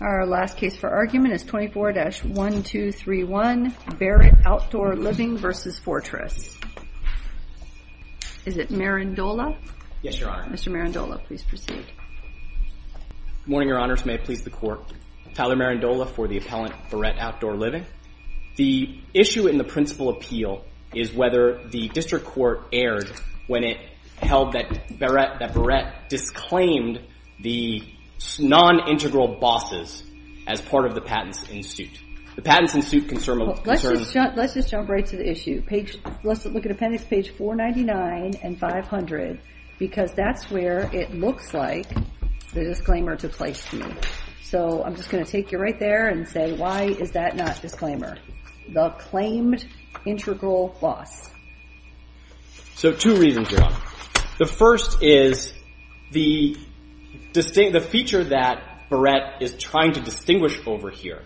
Our last case for argument is 24-1231, Barrette Outdoor Living v. Fortress. Is it Marindola? Yes, Your Honor. Mr. Marindola, please proceed. Good morning, Your Honors. May it please the Court. Tyler Marindola for the appellant, Barrette Outdoor Living. The issue in the principal appeal is whether the district court erred when it held that Barrette disclaimed the non-integral bosses as part of the patents in suit. The patents in suit concern... Let's just jump right to the issue. Let's look at appendix page 499 and 500 because that's where it looks like the disclaimer to place to. So I'm just going to take you right there and say, why is that not disclaimer? The claimed integral boss. So two reasons, Your Honor. The first is the feature that Barrette is trying to distinguish over here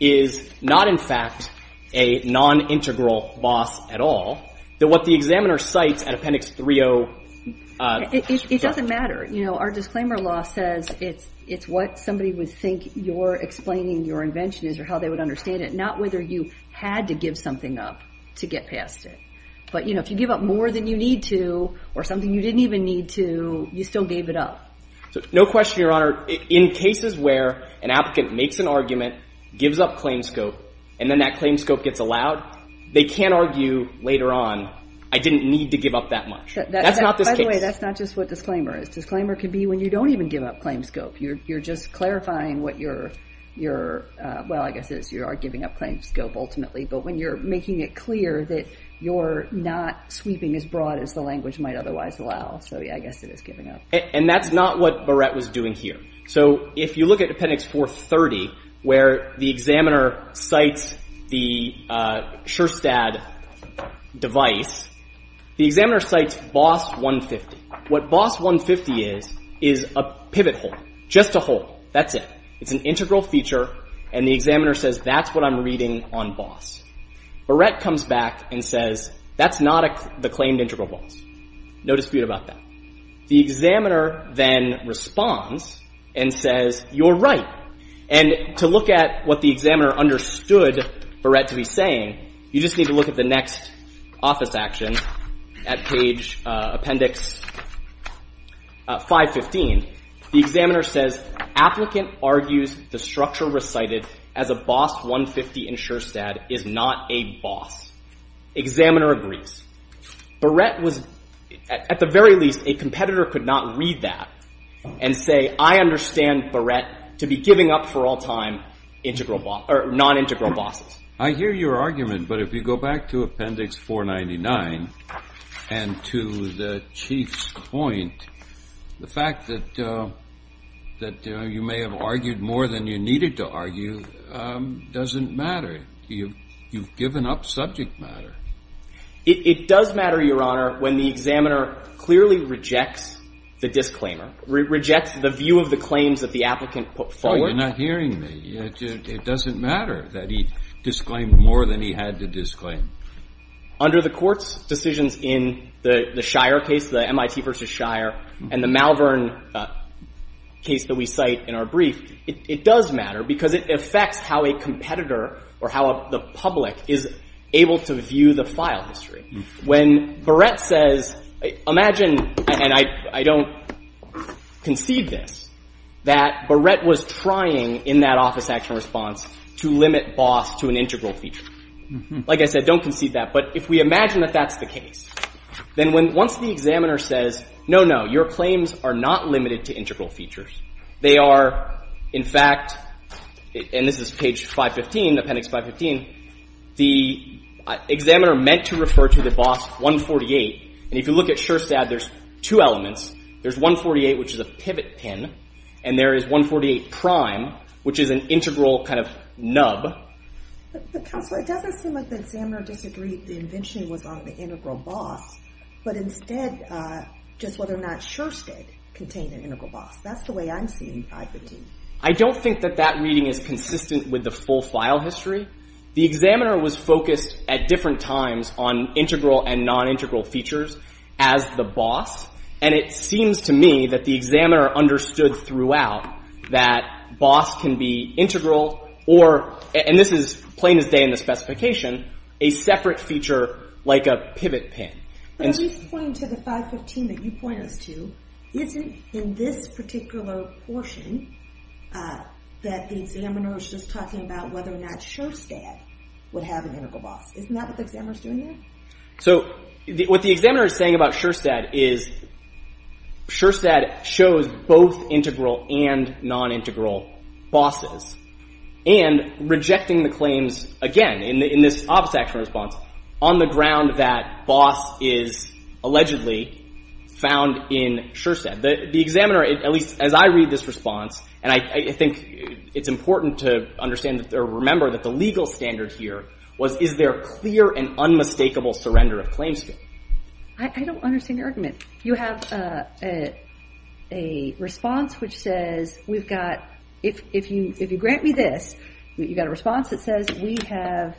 is not in fact a non-integral boss at all. What the examiner cites at appendix 30... It doesn't matter. Our disclaimer law says it's what somebody would think you're explaining your invention is or how they would understand it, not whether you had to give something up to get past it. But if you give up more than you need to or something you didn't even need to, you still gave it up. No question, Your Honor. In cases where an applicant makes an argument, gives up claim scope, and then that claim scope gets allowed, they can argue later on, I didn't need to give up that much. That's not this case. By the way, that's not just what disclaimer is. Disclaimer can be when you don't even give up claim scope. You're just clarifying what you're... Well, I guess it is you are giving up claim scope ultimately. But when you're making it clear that you're not sweeping as broad as the language might otherwise allow. So yeah, I guess it is giving up. And that's not what Barrette was doing here. So if you look at appendix 430, where the examiner cites the SureStat device, the examiner cites boss 150. What boss 150 is, is a pivot hole. Just a hole. That's it. It's an integral feature, and the examiner says, that's what I'm reading on boss. Barrette comes back and says, that's not the claimed integral boss. No dispute about that. The examiner then responds and says, you're right. And to look at what the examiner understood Barrette to be saying, you just need to look at the next office action at page appendix 515. The examiner says, applicant argues the structure recited as a boss 150 in SureStat is not a boss. Examiner agrees. Barrette was, at the very least, a competitor could not read that and say, I understand Barrette to be giving up for all time non-integral bosses. I hear your argument, but if you go back to appendix 499 and to the chief's point, the fact that you may have argued more than you needed to argue doesn't matter. You've given up subject matter. It does matter, Your Honor, when the examiner clearly rejects the disclaimer, rejects the view of the claims that the applicant put forward. Oh, you're not hearing me. It doesn't matter that he disclaimed more than he had to disclaim. Under the court's decisions in the Shire case, the MIT versus Shire, and the Malvern case that we cite in our brief, it does matter because it affects how a competitor or how the public is able to view the file history. When Barrette says, imagine, and I don't conceive this, that Barrette was trying in that office action response to limit boss to an integral feature. Like I said, don't conceive that. But if we imagine that that's the case, then once the examiner says, no, no, your claims are not limited to integral features. They are, in fact, and this is page 515, appendix 515, the examiner meant to refer to the boss 148. And if you look at Shire-SAB, there's two elements. There's 148, which is a pivot pin. And there is 148 prime, which is an integral kind of nub. But Counselor, it doesn't seem like the examiner disagreed the invention was on the integral boss, but instead, just whether or not Shire did contain an integral boss. That's the way I'm seeing 515. I don't think that that reading is consistent with the full file history. The examiner was focused at different times on integral and non-integral features as the boss. And it seems to me that the examiner understood throughout that boss can be integral or, and this is plain as day in the specification, a separate feature like a pivot pin. But are you pointing to the 515 that you point us to, isn't in this particular portion that the examiner is just talking about whether or not Shire-SAB would have an integral boss. Isn't that what the examiner is doing here? So what the examiner is saying about Shire-SAB is Shire-SAB shows both integral and non-integral bosses. And rejecting the claims, again, in this office action response, on the ground that boss is allegedly found in Shire-SAB. The examiner, at least as I read this response, and I think it's important to understand or remember that the legal standard here was is there clear and unmistakable surrender of claims here? I don't understand your argument. You have a response which says we've got, if you grant me this, you've got a response that says we have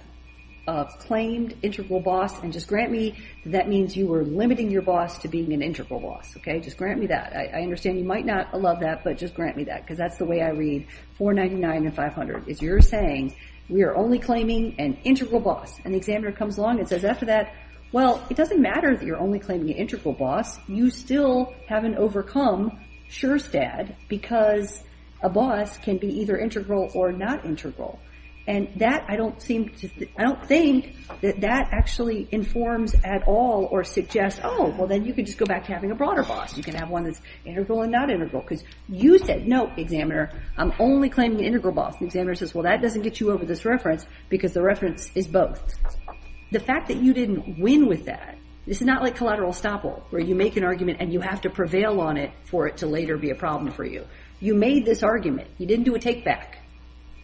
claimed integral boss and just grant me that means you were limiting your boss to being an integral boss. Just grant me that. I understand you might not love that, but just grant me that. Because that's the way I read 499 and 500. Is you're saying we are only claiming an integral boss. And the examiner comes along and says, after that, well, it doesn't matter that you're only claiming an integral boss. You still haven't overcome Shire-SAB because a boss can be either integral or not integral. And that, I don't think that that actually informs at all or suggests, oh, well, then you could just go back to having a broader boss. You can have one that's integral and not integral. Because you said, no, examiner, I'm only claiming an integral boss. The examiner says, well, that doesn't get you over this reference because the reference is both. The fact that you didn't win with that, this is not like collateral estoppel, where you make an argument and you have to prevail on it for it to later be a problem for you. You made this argument. You didn't do a take back.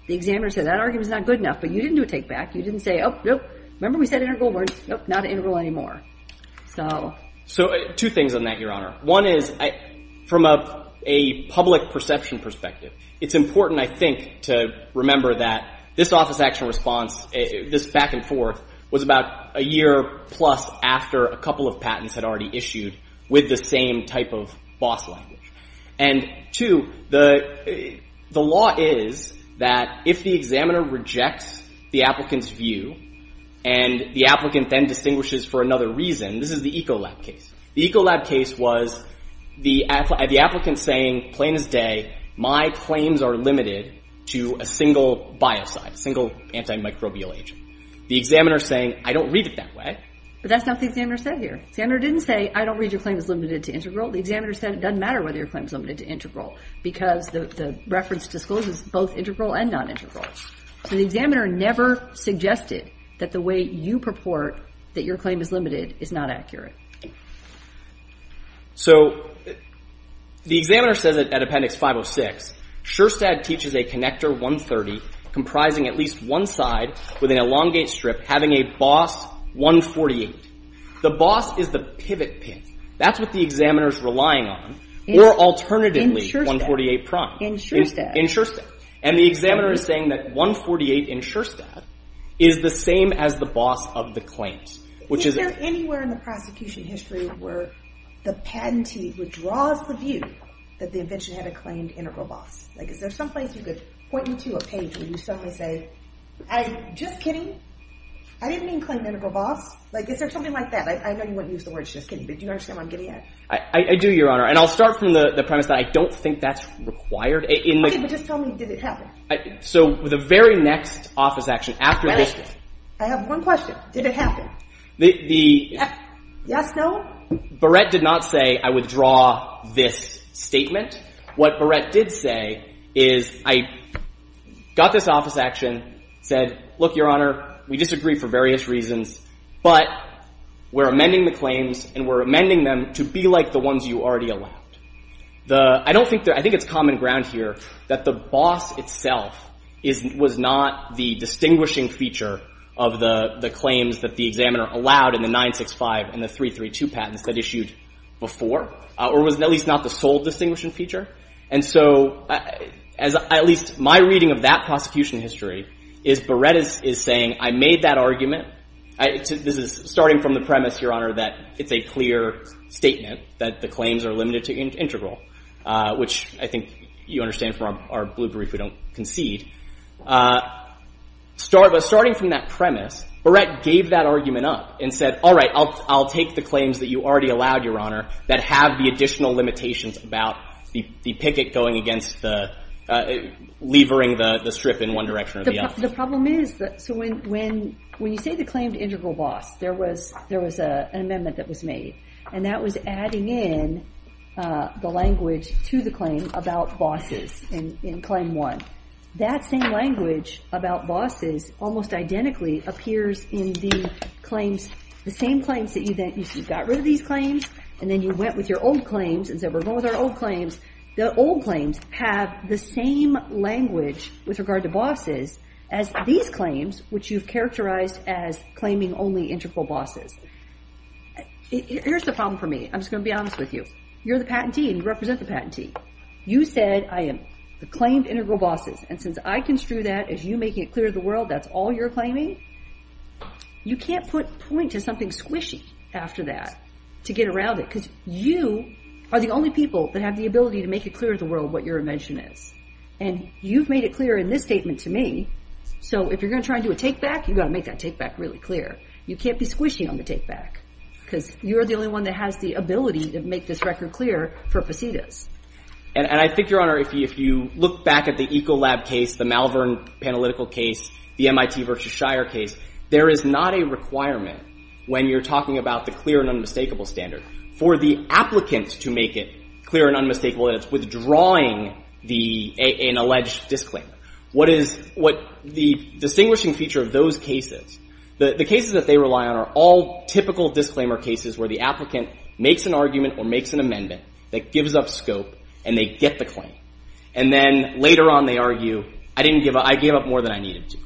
The examiner said, that argument is not good enough. But you didn't do a take back. You didn't say, oh, nope. Remember we said integral? Nope, not integral anymore. So two things on that, Your Honor. One is from a public perception perspective, it's important, I think, to remember that this office action response, this back and forth, was about a year plus after a couple of patents had already issued with the same type of boss language. And two, the law is that if the examiner rejects the applicant's view and the applicant then distinguishes for another reason, this is the Ecolab case. The Ecolab case was the applicant saying, plain as day, my claims are limited to a single biocide, a single antimicrobial agent. The examiner saying, I don't read it that way. But that's not what the examiner said here. The examiner didn't say, I don't read your claim as limited to integral. The examiner said, it doesn't matter whether your claim is limited to integral because the reference discloses both integral and non-integral. So the examiner never suggested that the way you purport that your claim is limited is not accurate. So the examiner says it at Appendix 506, SureStat teaches a connector 130 comprising at least one side with an elongate strip having a boss 148. The boss is the pivot pin. That's what the examiner is relying on. Or alternatively, 148 prime. And the examiner is saying that 148 in SureStat is the same as the boss of the claims. Is there anywhere in the prosecution history where the patentee withdraws the view that the invention had a claimed integral boss? Is there someplace you could point me to a page where you suddenly say, I'm just kidding. I didn't mean claim integral boss. Is there something like that? I know you wouldn't use the words just kidding, but do you understand what I'm getting at? I do, Your Honor. And I'll start from the premise that I don't think that's required. OK, but just tell me, did it happen? So the very next office action after the listening. I have one question. Did it happen? Yes, no? Barrett did not say I withdraw this statement. What Barrett did say is I got this office action, said, look, Your Honor, we disagree for various reasons, but we're amending the claims and we're amending them to be like the ones you already allowed. I think it's common ground here that the boss itself was not the distinguishing feature of the claims that the examiner allowed in the 965 and the 332 patents that issued before, or was at least not the sole distinguishing feature. And so at least my reading of that prosecution history is Barrett is saying, I made that argument. This is starting from the premise, Your Honor, that it's a clear statement that the claims are limited to integral, which I think you understand from our blue brief, we don't concede. But starting from that premise, Barrett gave that argument up and said, all right, I'll take the claims that you already allowed, Your Honor, that have the additional limitations about the picket going against the levering the strip in one direction or the other. The problem is that when you say the claim to integral boss, there was an amendment that was made, and that was adding in the language to the claim about bosses in claim one. That same language about bosses almost identically appears in the claims, the same claims that you got rid of these claims, and then you went with your old claims and said, we're going with our old claims. The old claims have the same language with regard to bosses as these claims, which you've characterized as claiming only integral bosses. Here's the problem for me. I'm just going to be honest with you. You're the patentee, and you represent the patentee. You said, I am the claimed integral bosses, and since I construe that as you making it clear to the world that's all you're claiming, you can't point to something squishy after that to get around it, because you are the only people that have the ability to make it clear to the world what your invention is. And you've made it clear in this statement to me, so if you're going to try and do a take-back, you've got to make that take-back really clear. You can't be squishy on the take-back, because you're the only one that has the ability to make this record clear for facetious. And I think, Your Honor, if you look back at the Ecolab case, the Malvern Panalytical case, the MIT versus Shire case, there is not a requirement when you're talking about the clear and unmistakable standard for the applicant to make it clear and unmistakable that it's withdrawing an alleged disclaimer. The distinguishing feature of those cases, the cases that they rely on are all typical disclaimer cases where the applicant makes an argument or makes an amendment that gives up scope, and they get the claim. And then later on, they argue, I gave up more than I needed to.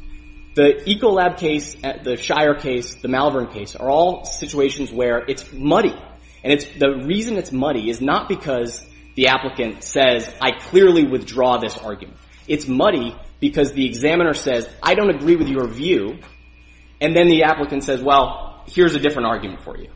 The Ecolab case, the Shire case, the Malvern case, are all situations where it's muddy. And the reason it's muddy is not because the applicant says, I clearly withdraw this argument. It's muddy because the examiner says, I don't agree with your view, and then the applicant says, well, here's a different argument for you.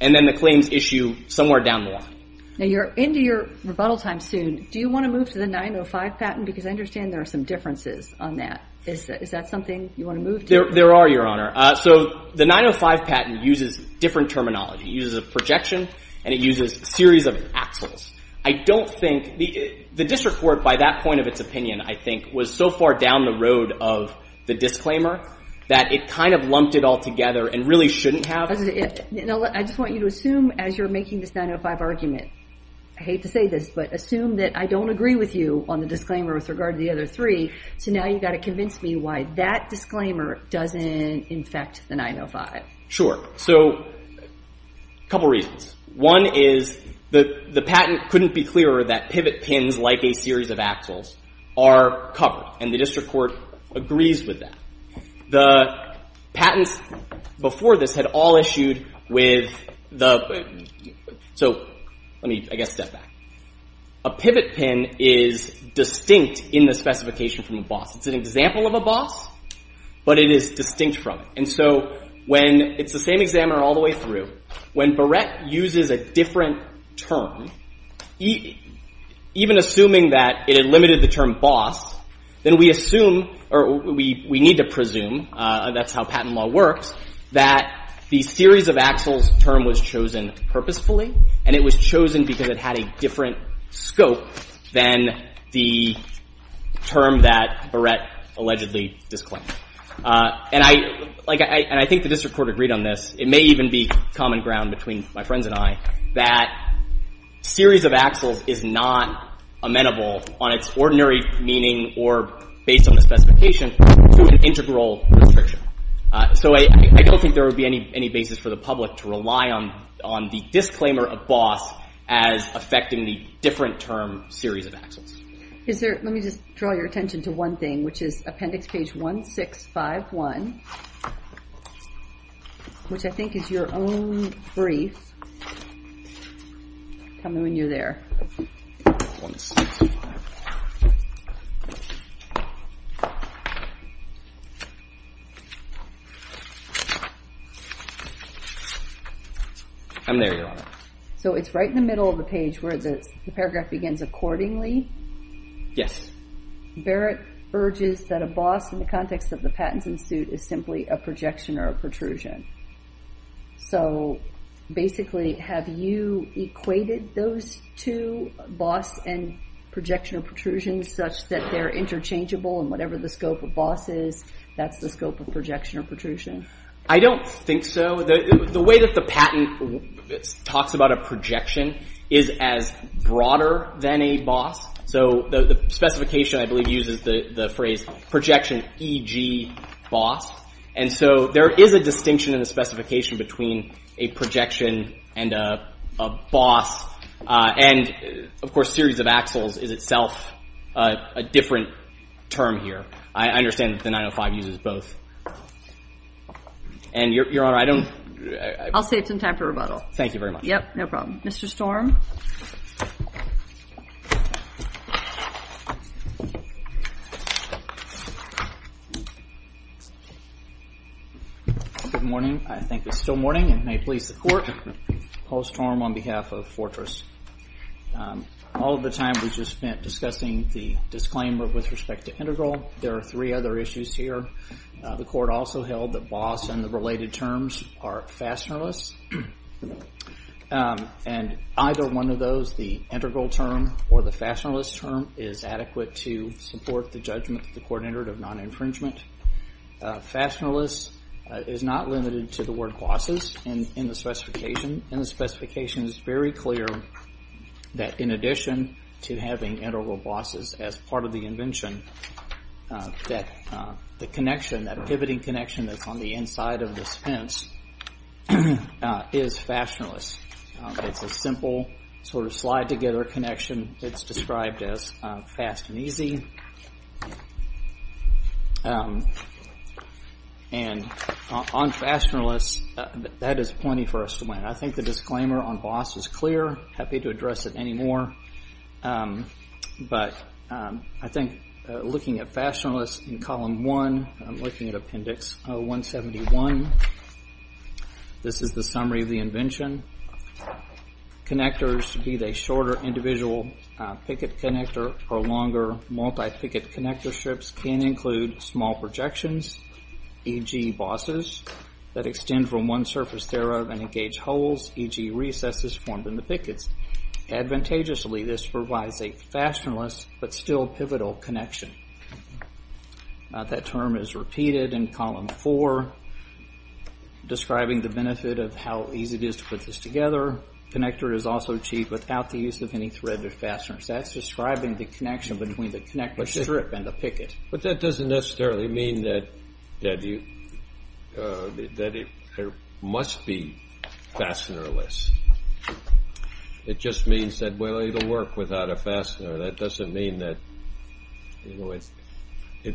And then the claims issue somewhere down the line. Now, you're into your rebuttal time soon. Do you want to move to the 905 patent? Because I understand there are some differences on that. Is that something you want to move to? There are, Your Honor. So the 905 patent uses different terminology. It uses a projection, and it uses a series of axles. The district court, by that point of its opinion, I think, was so far down the road of the disclaimer that it kind of lumped it all together and really shouldn't have. I just want you to assume, as you're making this 905 argument, I hate to say this, but assume that I don't agree with you on the disclaimer with regard to the other three. So now you've got to convince me why that disclaimer doesn't infect the 905. Sure. So a couple reasons. One is the patent couldn't be clearer that pivot pins, like a series of axles, are covered, and the district court agrees with that. The patents before this had all issued with the... So let me, I guess, step back. A pivot pin is distinct in the specification from a boss. It's an example of a boss, but it is distinct from it. And so when... it's the same examiner all the way through. When Barrett uses a different term, even assuming that it had limited the term boss, then we assume, or we need to presume, that's how patent law works, that the series of axles term was chosen purposefully, and it was chosen because it had a different scope than the term that Barrett allegedly disclaimed. And I think the district court agreed on this. It may even be common ground between my friends and I that series of axles is not amenable, on its ordinary meaning or based on the specification, to an integral restriction. So I don't think there would be any basis for the public to rely on the disclaimer of boss as affecting the different term series of axles. Is there... let me just draw your attention to one thing, which is appendix page 1651, which I think is your own brief. Tell me when you're there. I'm there, Your Honor. So it's right in the middle of the page where the paragraph begins, accordingly? Yes. Barrett urges that a boss, in the context of the patents in suit, is simply a projection or a protrusion. So basically, have you equated those two, boss and projection or protrusion, such that they're interchangeable in whatever the scope of boss is? That's the scope of projection or protrusion? I don't think so. The way that the patent talks about a projection is as broader than a boss. So the specification, I believe, uses the phrase projection e.g. boss. And so there is a distinction in the specification between a projection and a boss. And, of course, series of axles is itself a different term here. I understand that the 905 uses both. And, Your Honor, I don't... I'll say it's in time for rebuttal. Thank you very much. Yep, no problem. Mr. Storm? Good morning. I think it's still morning. And may it please the Court, Paul Storm on behalf of Fortress. All of the time we just spent discussing the disclaimer with respect to integral. There are three other issues here. The Court also held that boss and the related terms are fashionless. And either one of those, the integral term or the fashionless term, is adequate to support the judgment of the Court-interred of non-infringement. Fashionless is not limited to the word bosses in the specification. And the specification is very clear that in addition to having integral bosses as part of the invention, that the connection, that pivoting connection that's on the inside of this fence is fashionless. It's a simple sort of slide-together connection that's described as fast and easy. And on fashionless, that is plenty for us to learn. I think the disclaimer on boss is clear. Happy to address it any more. But I think looking at fashionless in column one, I'm looking at appendix 171. This is the summary of the invention. Connectors, be they shorter individual picket connector or longer multi-picket connector strips, can include small projections, e.g. bosses, that extend from one surface thereof and engage holes, e.g. recesses formed in the pickets. Advantageously, this provides a fashionless but still pivotal connection. That term is repeated in column four, describing the benefit of how easy it is to put this together. Connector is also achieved without the use of any thread or fasteners. That's describing the connection between the connector strip and the picket. But that doesn't necessarily mean that it must be fastenerless. It just means that, well, it'll work without a fastener. That doesn't mean that it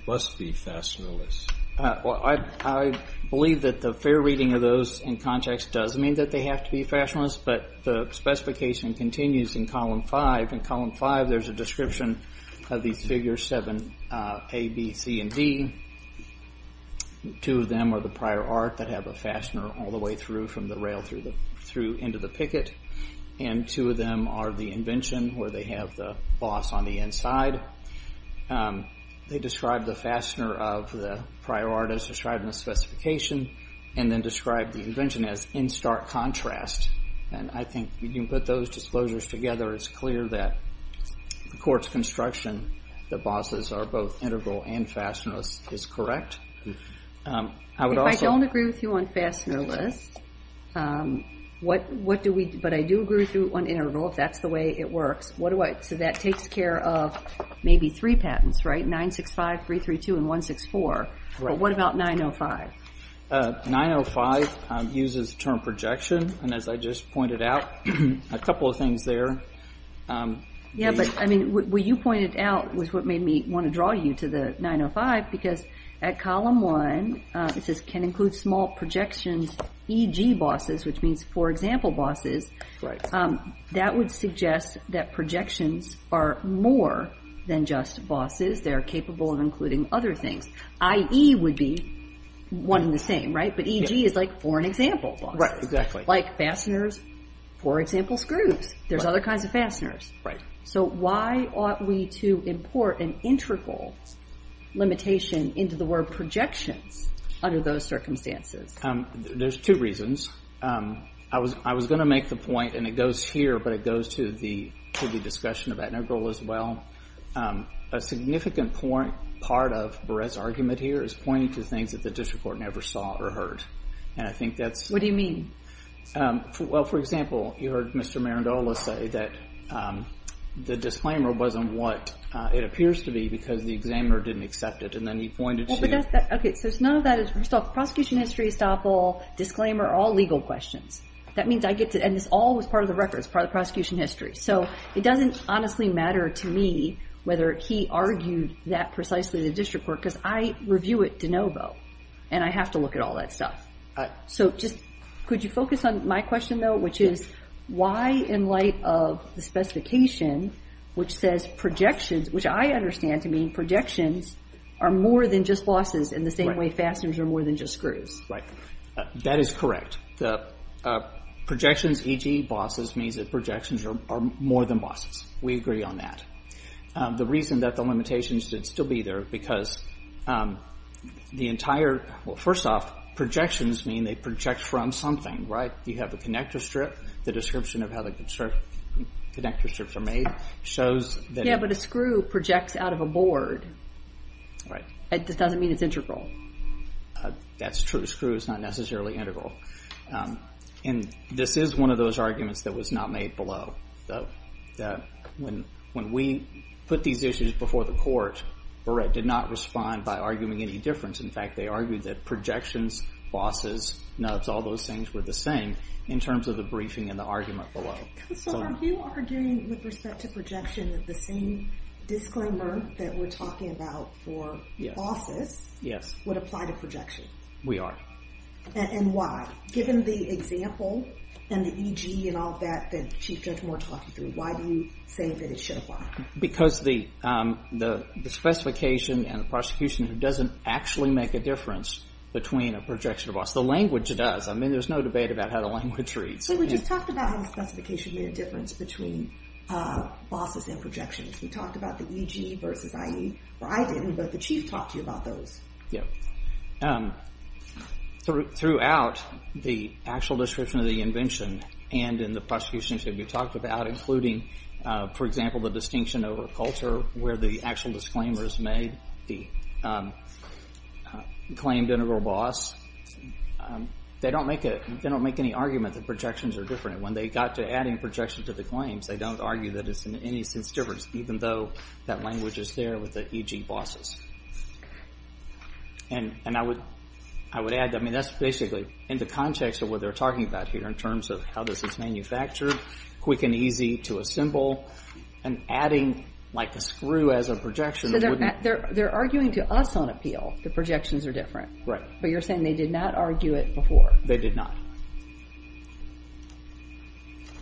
must be fastenerless. I believe that the fair reading of those in context does mean that they have to be fastenerless, but the specification continues in column five. In column five, there's a description of these figures 7A, B, C, and D. Two of them are the prior art that have a fastener all the way through from the rail through into the picket, and two of them are the invention where they have the boss on the inside. They describe the fastener of the prior art as described in the specification and then describe the invention as in stark contrast. I think when you put those disclosures together, it's clear that the court's construction that bosses are both integral and fastenerless is correct. If I don't agree with you on fastenerless, but I do agree with you on integral, if that's the way it works, so that takes care of maybe three patents, right? 965, 332, and 164, but what about 905? 905 uses the term projection, and as I just pointed out, a couple of things there. Yeah, but what you pointed out was what made me want to draw you to the 905 because at column one, it says can include small projections, e.g. bosses, which means for example bosses. That would suggest that projections are more than just bosses. They are capable of including other things. I.e. would be one and the same, right? But e.g. is like for an example, bosses. Like fasteners, for example, screws. There's other kinds of fasteners. So why ought we to import an integral limitation into the word projections under those circumstances? There's two reasons. I was going to make the point, and it goes here, but it goes to the discussion of integral as well. A significant part of Barrett's argument here is pointing to things that the district court never saw or heard, and I think that's... What do you mean? Well, for example, you heard Mr. Marindola say that the disclaimer wasn't what it appears to be because the examiner didn't accept it, and then he pointed to... Okay, so none of that is... First off, prosecution history is awful. Disclaimer, all legal questions. That means I get to... And this all was part of the records, part of the prosecution history. So it doesn't honestly matter to me whether he argued that precisely to the district court because I review it de novo, and I have to look at all that stuff. So just could you focus on my question, though, which is why in light of the specification which says projections, which I understand to mean projections are more than just bosses in the same way fasteners are more than just screws. Right. That is correct. Projections, e.g. bosses, means that projections are more than bosses. We agree on that. The reason that the limitations did still be there because the entire... Well, first off, projections mean they project from something, right? You have a connector strip. The description of how the connector strips are made shows that... Yeah, but a screw projects out of a board. Right. That doesn't mean it's integral. That's true. A screw is not necessarily integral. And this is one of those arguments that was not made below. When we put these issues before the court, Barrett did not respond by arguing any difference. In fact, they argued that projections, bosses, nubs, all those things were the same in terms of the briefing and the argument below. So are you arguing with respect to projection that the same disclaimer that we're talking about for bosses would apply to projections? We are. And why? Given the example and the e.g. and all that that Chief Judge Moore talked you through, why do you say that it should apply? Because the specification and the prosecution doesn't actually make a difference between a projection and a boss. The language does. I mean, there's no debate about how the language reads. We just talked about how the specification made a difference between bosses and projections. We talked about the e.g. versus i.e. Well, I didn't, but the Chief talked to you about those. Yeah. Throughout the actual description of the invention and in the prosecution that we talked about, including, for example, the distinction over culture where the actual disclaimer is made, the claimed integral boss, they don't make any argument that projections are different. When they got to adding projections to the claims, they don't argue that it's in any sense different, even though that language is there with the e.g. bosses. And I would add, I mean, that's basically in the context of what they're talking about here in terms of how this is manufactured, quick and easy to assemble, and adding, like, a screw as a projection wouldn't... So they're arguing to us on appeal that projections are different. Right. But you're saying they did not argue it before. They did not.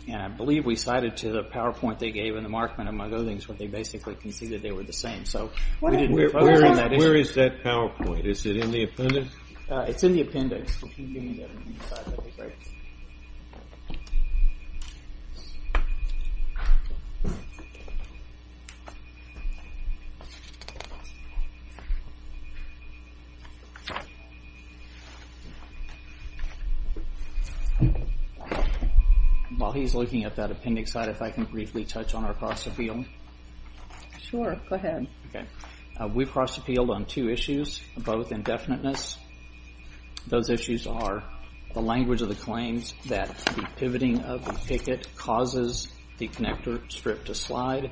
And I believe we cited to the PowerPoint they gave and the Markman, among other things, where they basically conceded they were the same. Where is that PowerPoint? Is it in the appendix? It's in the appendix. While he's looking at that appendix, I'd like to briefly touch on our cross-appeal. Sure, go ahead. We cross-appealed on two issues, both indefiniteness. Those issues are the language of the claims that the pivoting of the picket causes the connector strip to slide,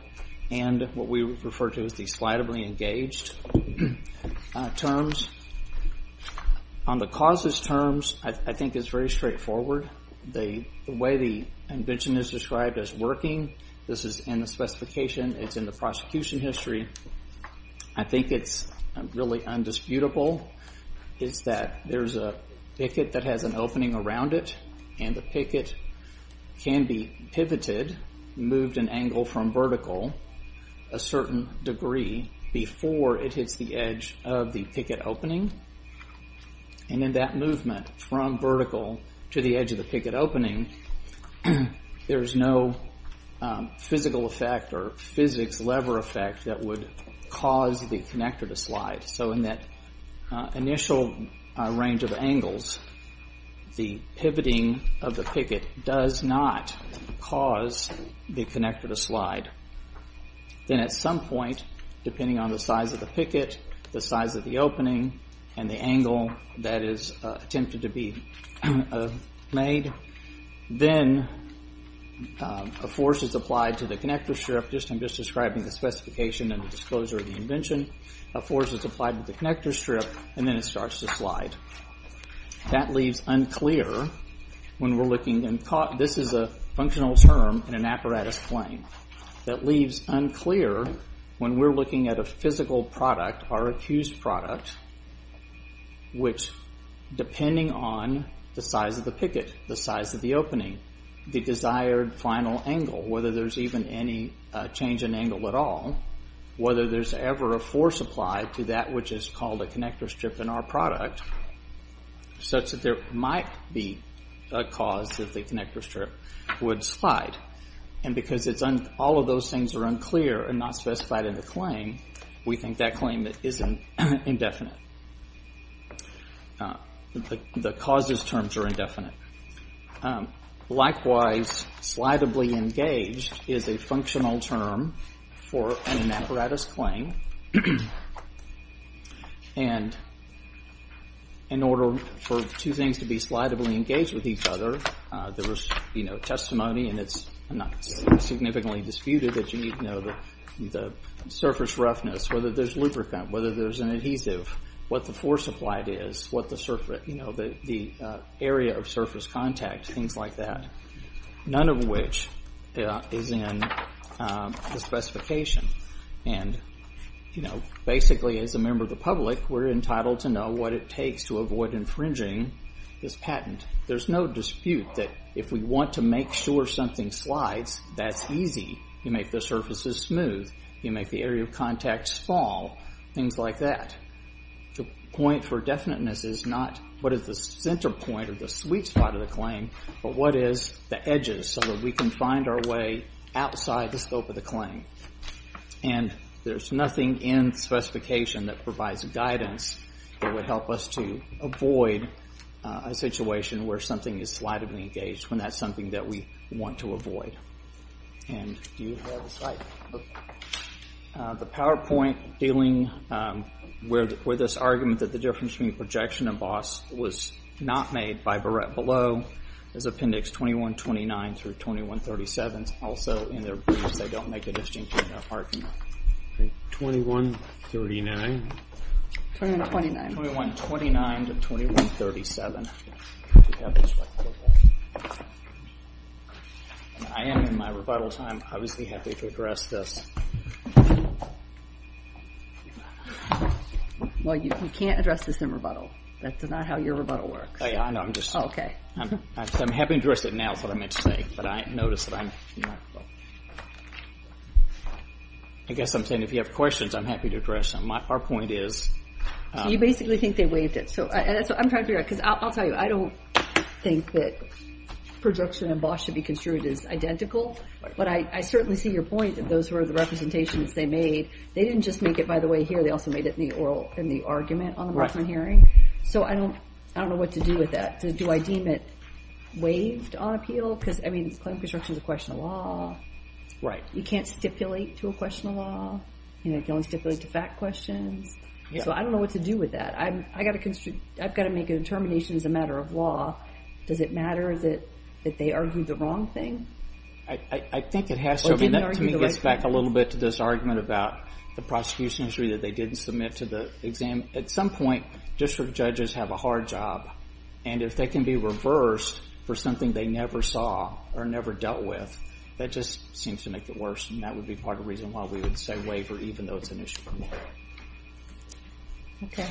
and what we refer to as the slidably engaged terms. On the causes terms, I think it's very straightforward. The way the invention is described as working, this is in the specification. It's in the prosecution history. I think it's really undisputable. It's that there's a picket that has an opening around it, and the picket can be pivoted, moved an angle from vertical a certain degree before it hits the edge of the picket opening. And in that movement from vertical to the edge of the picket opening, there's no physical effect or physics lever effect that would cause the connector to slide. So in that initial range of angles, the pivoting of the picket does not cause the connector to slide. Then at some point, depending on the size of the picket, the size of the opening, and the angle that is attempted to be made, then a force is applied to the connector strip. I'm just describing the specification and the disclosure of the invention. A force is applied to the connector strip, and then it starts to slide. That leaves unclear when we're looking... This is a functional term in an apparatus claim. That leaves unclear when we're looking at a physical product, our accused product, which, depending on the size of the picket, the size of the opening, the desired final angle, whether there's even any change in angle at all, whether there's ever a force applied to that which is called a connector strip in our product, such that there might be a cause that the connector strip would slide. And because all of those things are unclear and not specified in the claim, we think that claim is indefinite. The causes terms are indefinite. Likewise, slidably engaged is a functional term for an apparatus claim. And in order for two things to be slidably engaged with each other, there is testimony, and it's not significantly disputed, that you need to know the surface roughness, whether there's lubricant, whether there's an adhesive, what the force applied is, the area of surface contact, things like that, none of which is in the specification. And basically, as a member of the public, we're entitled to know what it takes to avoid infringing this patent. There's no dispute that if we want to make sure something slides, that's easy, you make the surfaces smooth, you make the area of contact small, things like that. The point for definiteness is not what is the center point or the sweet spot of the claim, but what is the edges so that we can find our way outside the scope of the claim. And there's nothing in specification that provides guidance that would help us to avoid a situation where something is slightly engaged when that's something that we want to avoid. And do you have a slide? The PowerPoint dealing with this argument that the difference between projection and BOSS was not made by Barrett Below. There's appendix 2129 through 2137. Also, in their briefs, they don't make a distinction in their argument. 2139. 2129. 2129 to 2137. I am, in my rebuttal time, obviously happy to address this. Well, you can't address this in rebuttal. That's not how your rebuttal works. I'm happy to address it now is what I meant to say, but I notice that I'm... I guess I'm saying if you have questions, I'm happy to address them. Our point is... So you basically think they waived it. I'm trying to figure out, because I'll tell you, I don't think that projection and BOSS should be construed as identical, but I certainly see your point that those were the representations they made. They didn't just make it, by the way, here. They also made it in the argument on the Boston hearing. So I don't know what to do with that. Do I deem it waived on appeal? Because, I mean, claim construction is a question of law. Right. You can't stipulate to a question of law. You can only stipulate to fact questions. So I don't know what to do with that. I've got to make a determination as a matter of law. Does it matter that they argued the wrong thing? I think it has to. That, to me, gets back a little bit to this argument about the prosecution history that they didn't submit to the exam. At some point, district judges have a hard job, and if they can be reversed for something they never saw or never dealt with, that just seems to make it worse, and that would be part of the reason why we would say waiver, even though it's an issue for more. Okay.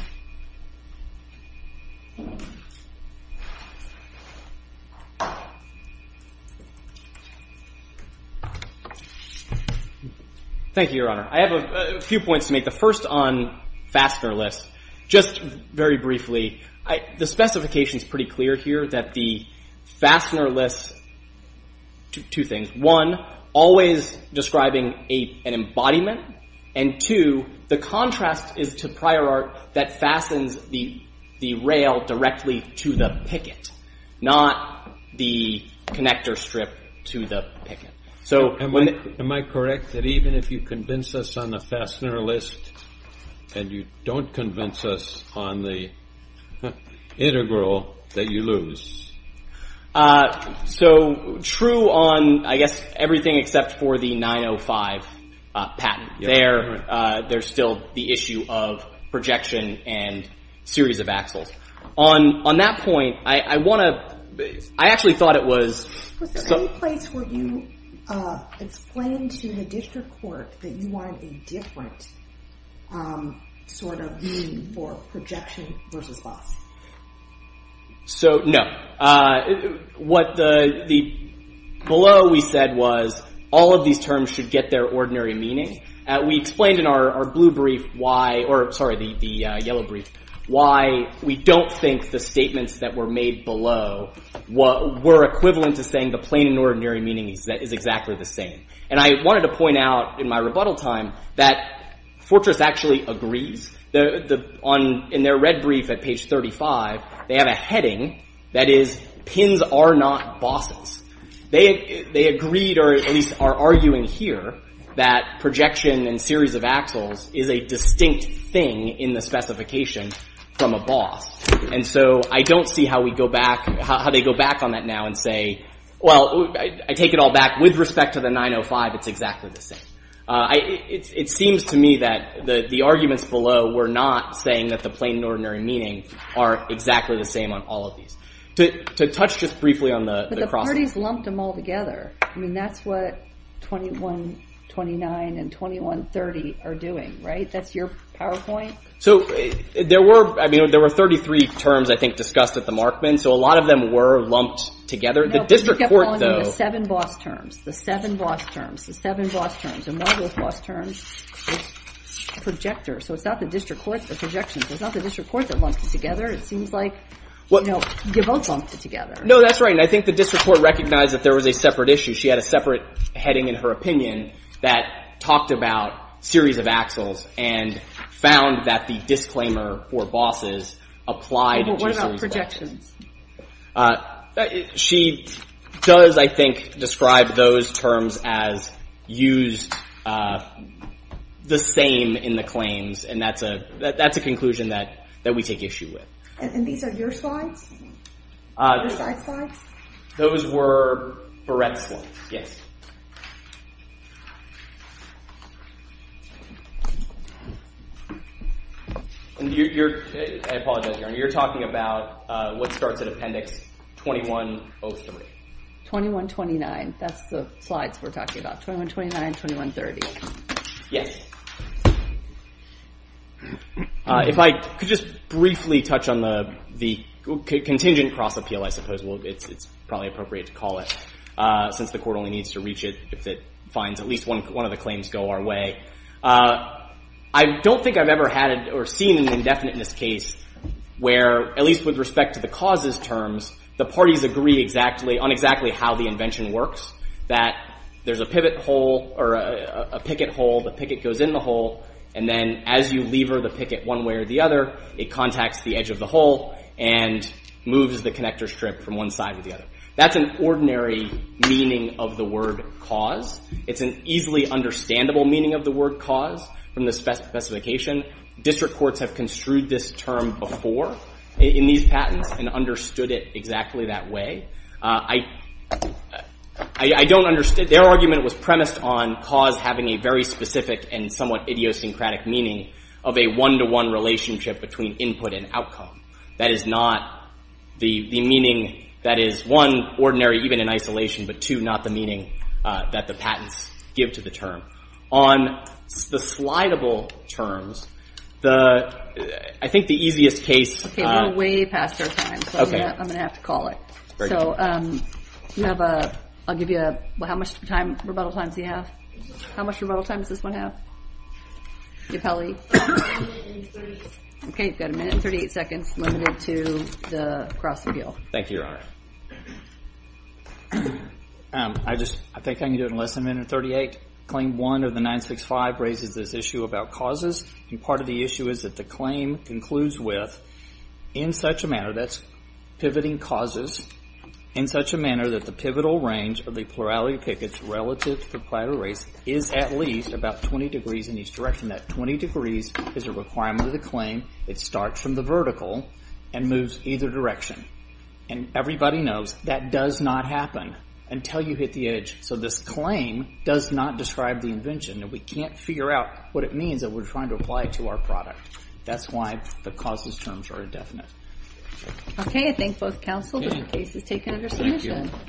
Thank you, Your Honor. I have a few points to make. The first on fastener lists. Just very briefly, the specification is pretty clear here that the fastener lists two things. One, always describing an embodiment, and two, the contrast is to prior art that fastens the rail directly to the picket, not the connector strip to the picket. Am I correct that even if you convince us on the fastener list and you don't convince us on the integral that you lose? So true on, I guess, everything except for the 905 patent. There's still the issue of projection and series of axles. On that point, I want to... I actually thought it was... Was there any place where you explained to the district court that you wanted a different sort of meaning for projection versus loss? So, no. What the... Below we said was all of these terms should get their ordinary meaning. We explained in our blue brief why... Or, sorry, the yellow brief, why we don't think the statements that were made below were equivalent to saying the plain and ordinary meaning is exactly the same. And I wanted to point out in my rebuttal time that Fortress actually agrees. In their red brief at page 35, they have a heading that is pins are not bosses. They agreed, or at least are arguing here, that projection and series of axles is a distinct thing in the specification from a boss. And so I don't see how we go back... how they go back on that now and say, well, I take it all back. With respect to the 905, it's exactly the same. It seems to me that the arguments below were not saying that the plain and ordinary meaning are exactly the same on all of these. To touch just briefly on the... But the parties lumped them all together. I mean, that's what 2129 and 2130 are doing, right? That's your PowerPoint? So, there were, I mean, there were 33 terms, I think, discussed at the Markman. So a lot of them were lumped together. The district court, though... No, but you kept calling them the seven boss terms, the seven boss terms, the seven boss terms. And one of those boss terms was projector. So it's not the district court's projections. It's not the district court that lumped it together. It seems like, you know, you both lumped it together. No, that's right. And I think the district court recognized that there was a separate issue. She had a separate heading in her opinion that talked about series of axles and found that the disclaimer for bosses applied to series of axles. But what about projections? She does, I think, describe those terms as used the same in the claims. And that's a conclusion that we take issue with. And these are your slides? Your slide slides? Those were Barrett's slides, yes. And you're... I apologize, Your Honor. You're talking about what starts at Appendix 2103. 2129. That's the slides we're talking about. 2129, 2130. Yes. If I could just briefly touch on the contingent cross-appeal, I suppose. Well, it's probably appropriate to call it since the court only needs to review it. If it finds at least one of the claims go our way. I don't think I've ever had or seen an indefinite in this case where, at least with respect to the causes terms, the parties agree on exactly how the invention works. That there's a pivot hole or a picket hole. The picket goes in the hole. And then as you lever the picket one way or the other, it contacts the edge of the hole and moves the connector strip from one side to the other. That's an ordinary meaning of the word cause. It's an easily understandable meaning of the word cause from the specification. District courts have construed this term before in these patents and understood it exactly that way. I don't understand... Their argument was premised on cause having a very specific and somewhat idiosyncratic meaning of a one-to-one relationship between input and outcome. That is not the meaning that is, one, ordinary, even in isolation, but two, not the meaning that the patents give to the term. On the slidable terms, I think the easiest case... Okay, we're way past our time, so I'm going to have to call it. So I'll give you... How much rebuttal time does he have? How much rebuttal time does this one have? Capelli? Okay, you've got a minute and 38 seconds limited to the cross-appeal. Thank you, Your Honor. I think I can do it in less than a minute and 38. Claim 1 of the 965 raises this issue about causes, and part of the issue is that the claim concludes with, in such a manner, that's pivoting causes, in such a manner that the pivotal range of the plurality of pickets relative to the pivotal range is at least about 20 degrees in each direction. That 20 degrees is a requirement of the claim. It starts from the vertical and moves either direction. And everybody knows that does not happen until you hit the edge. So this claim does not describe the invention, and we can't figure out what it means that we're trying to apply it to our product. That's why the causes terms are indefinite. Okay, I thank both counsel, but the case is taken under submission.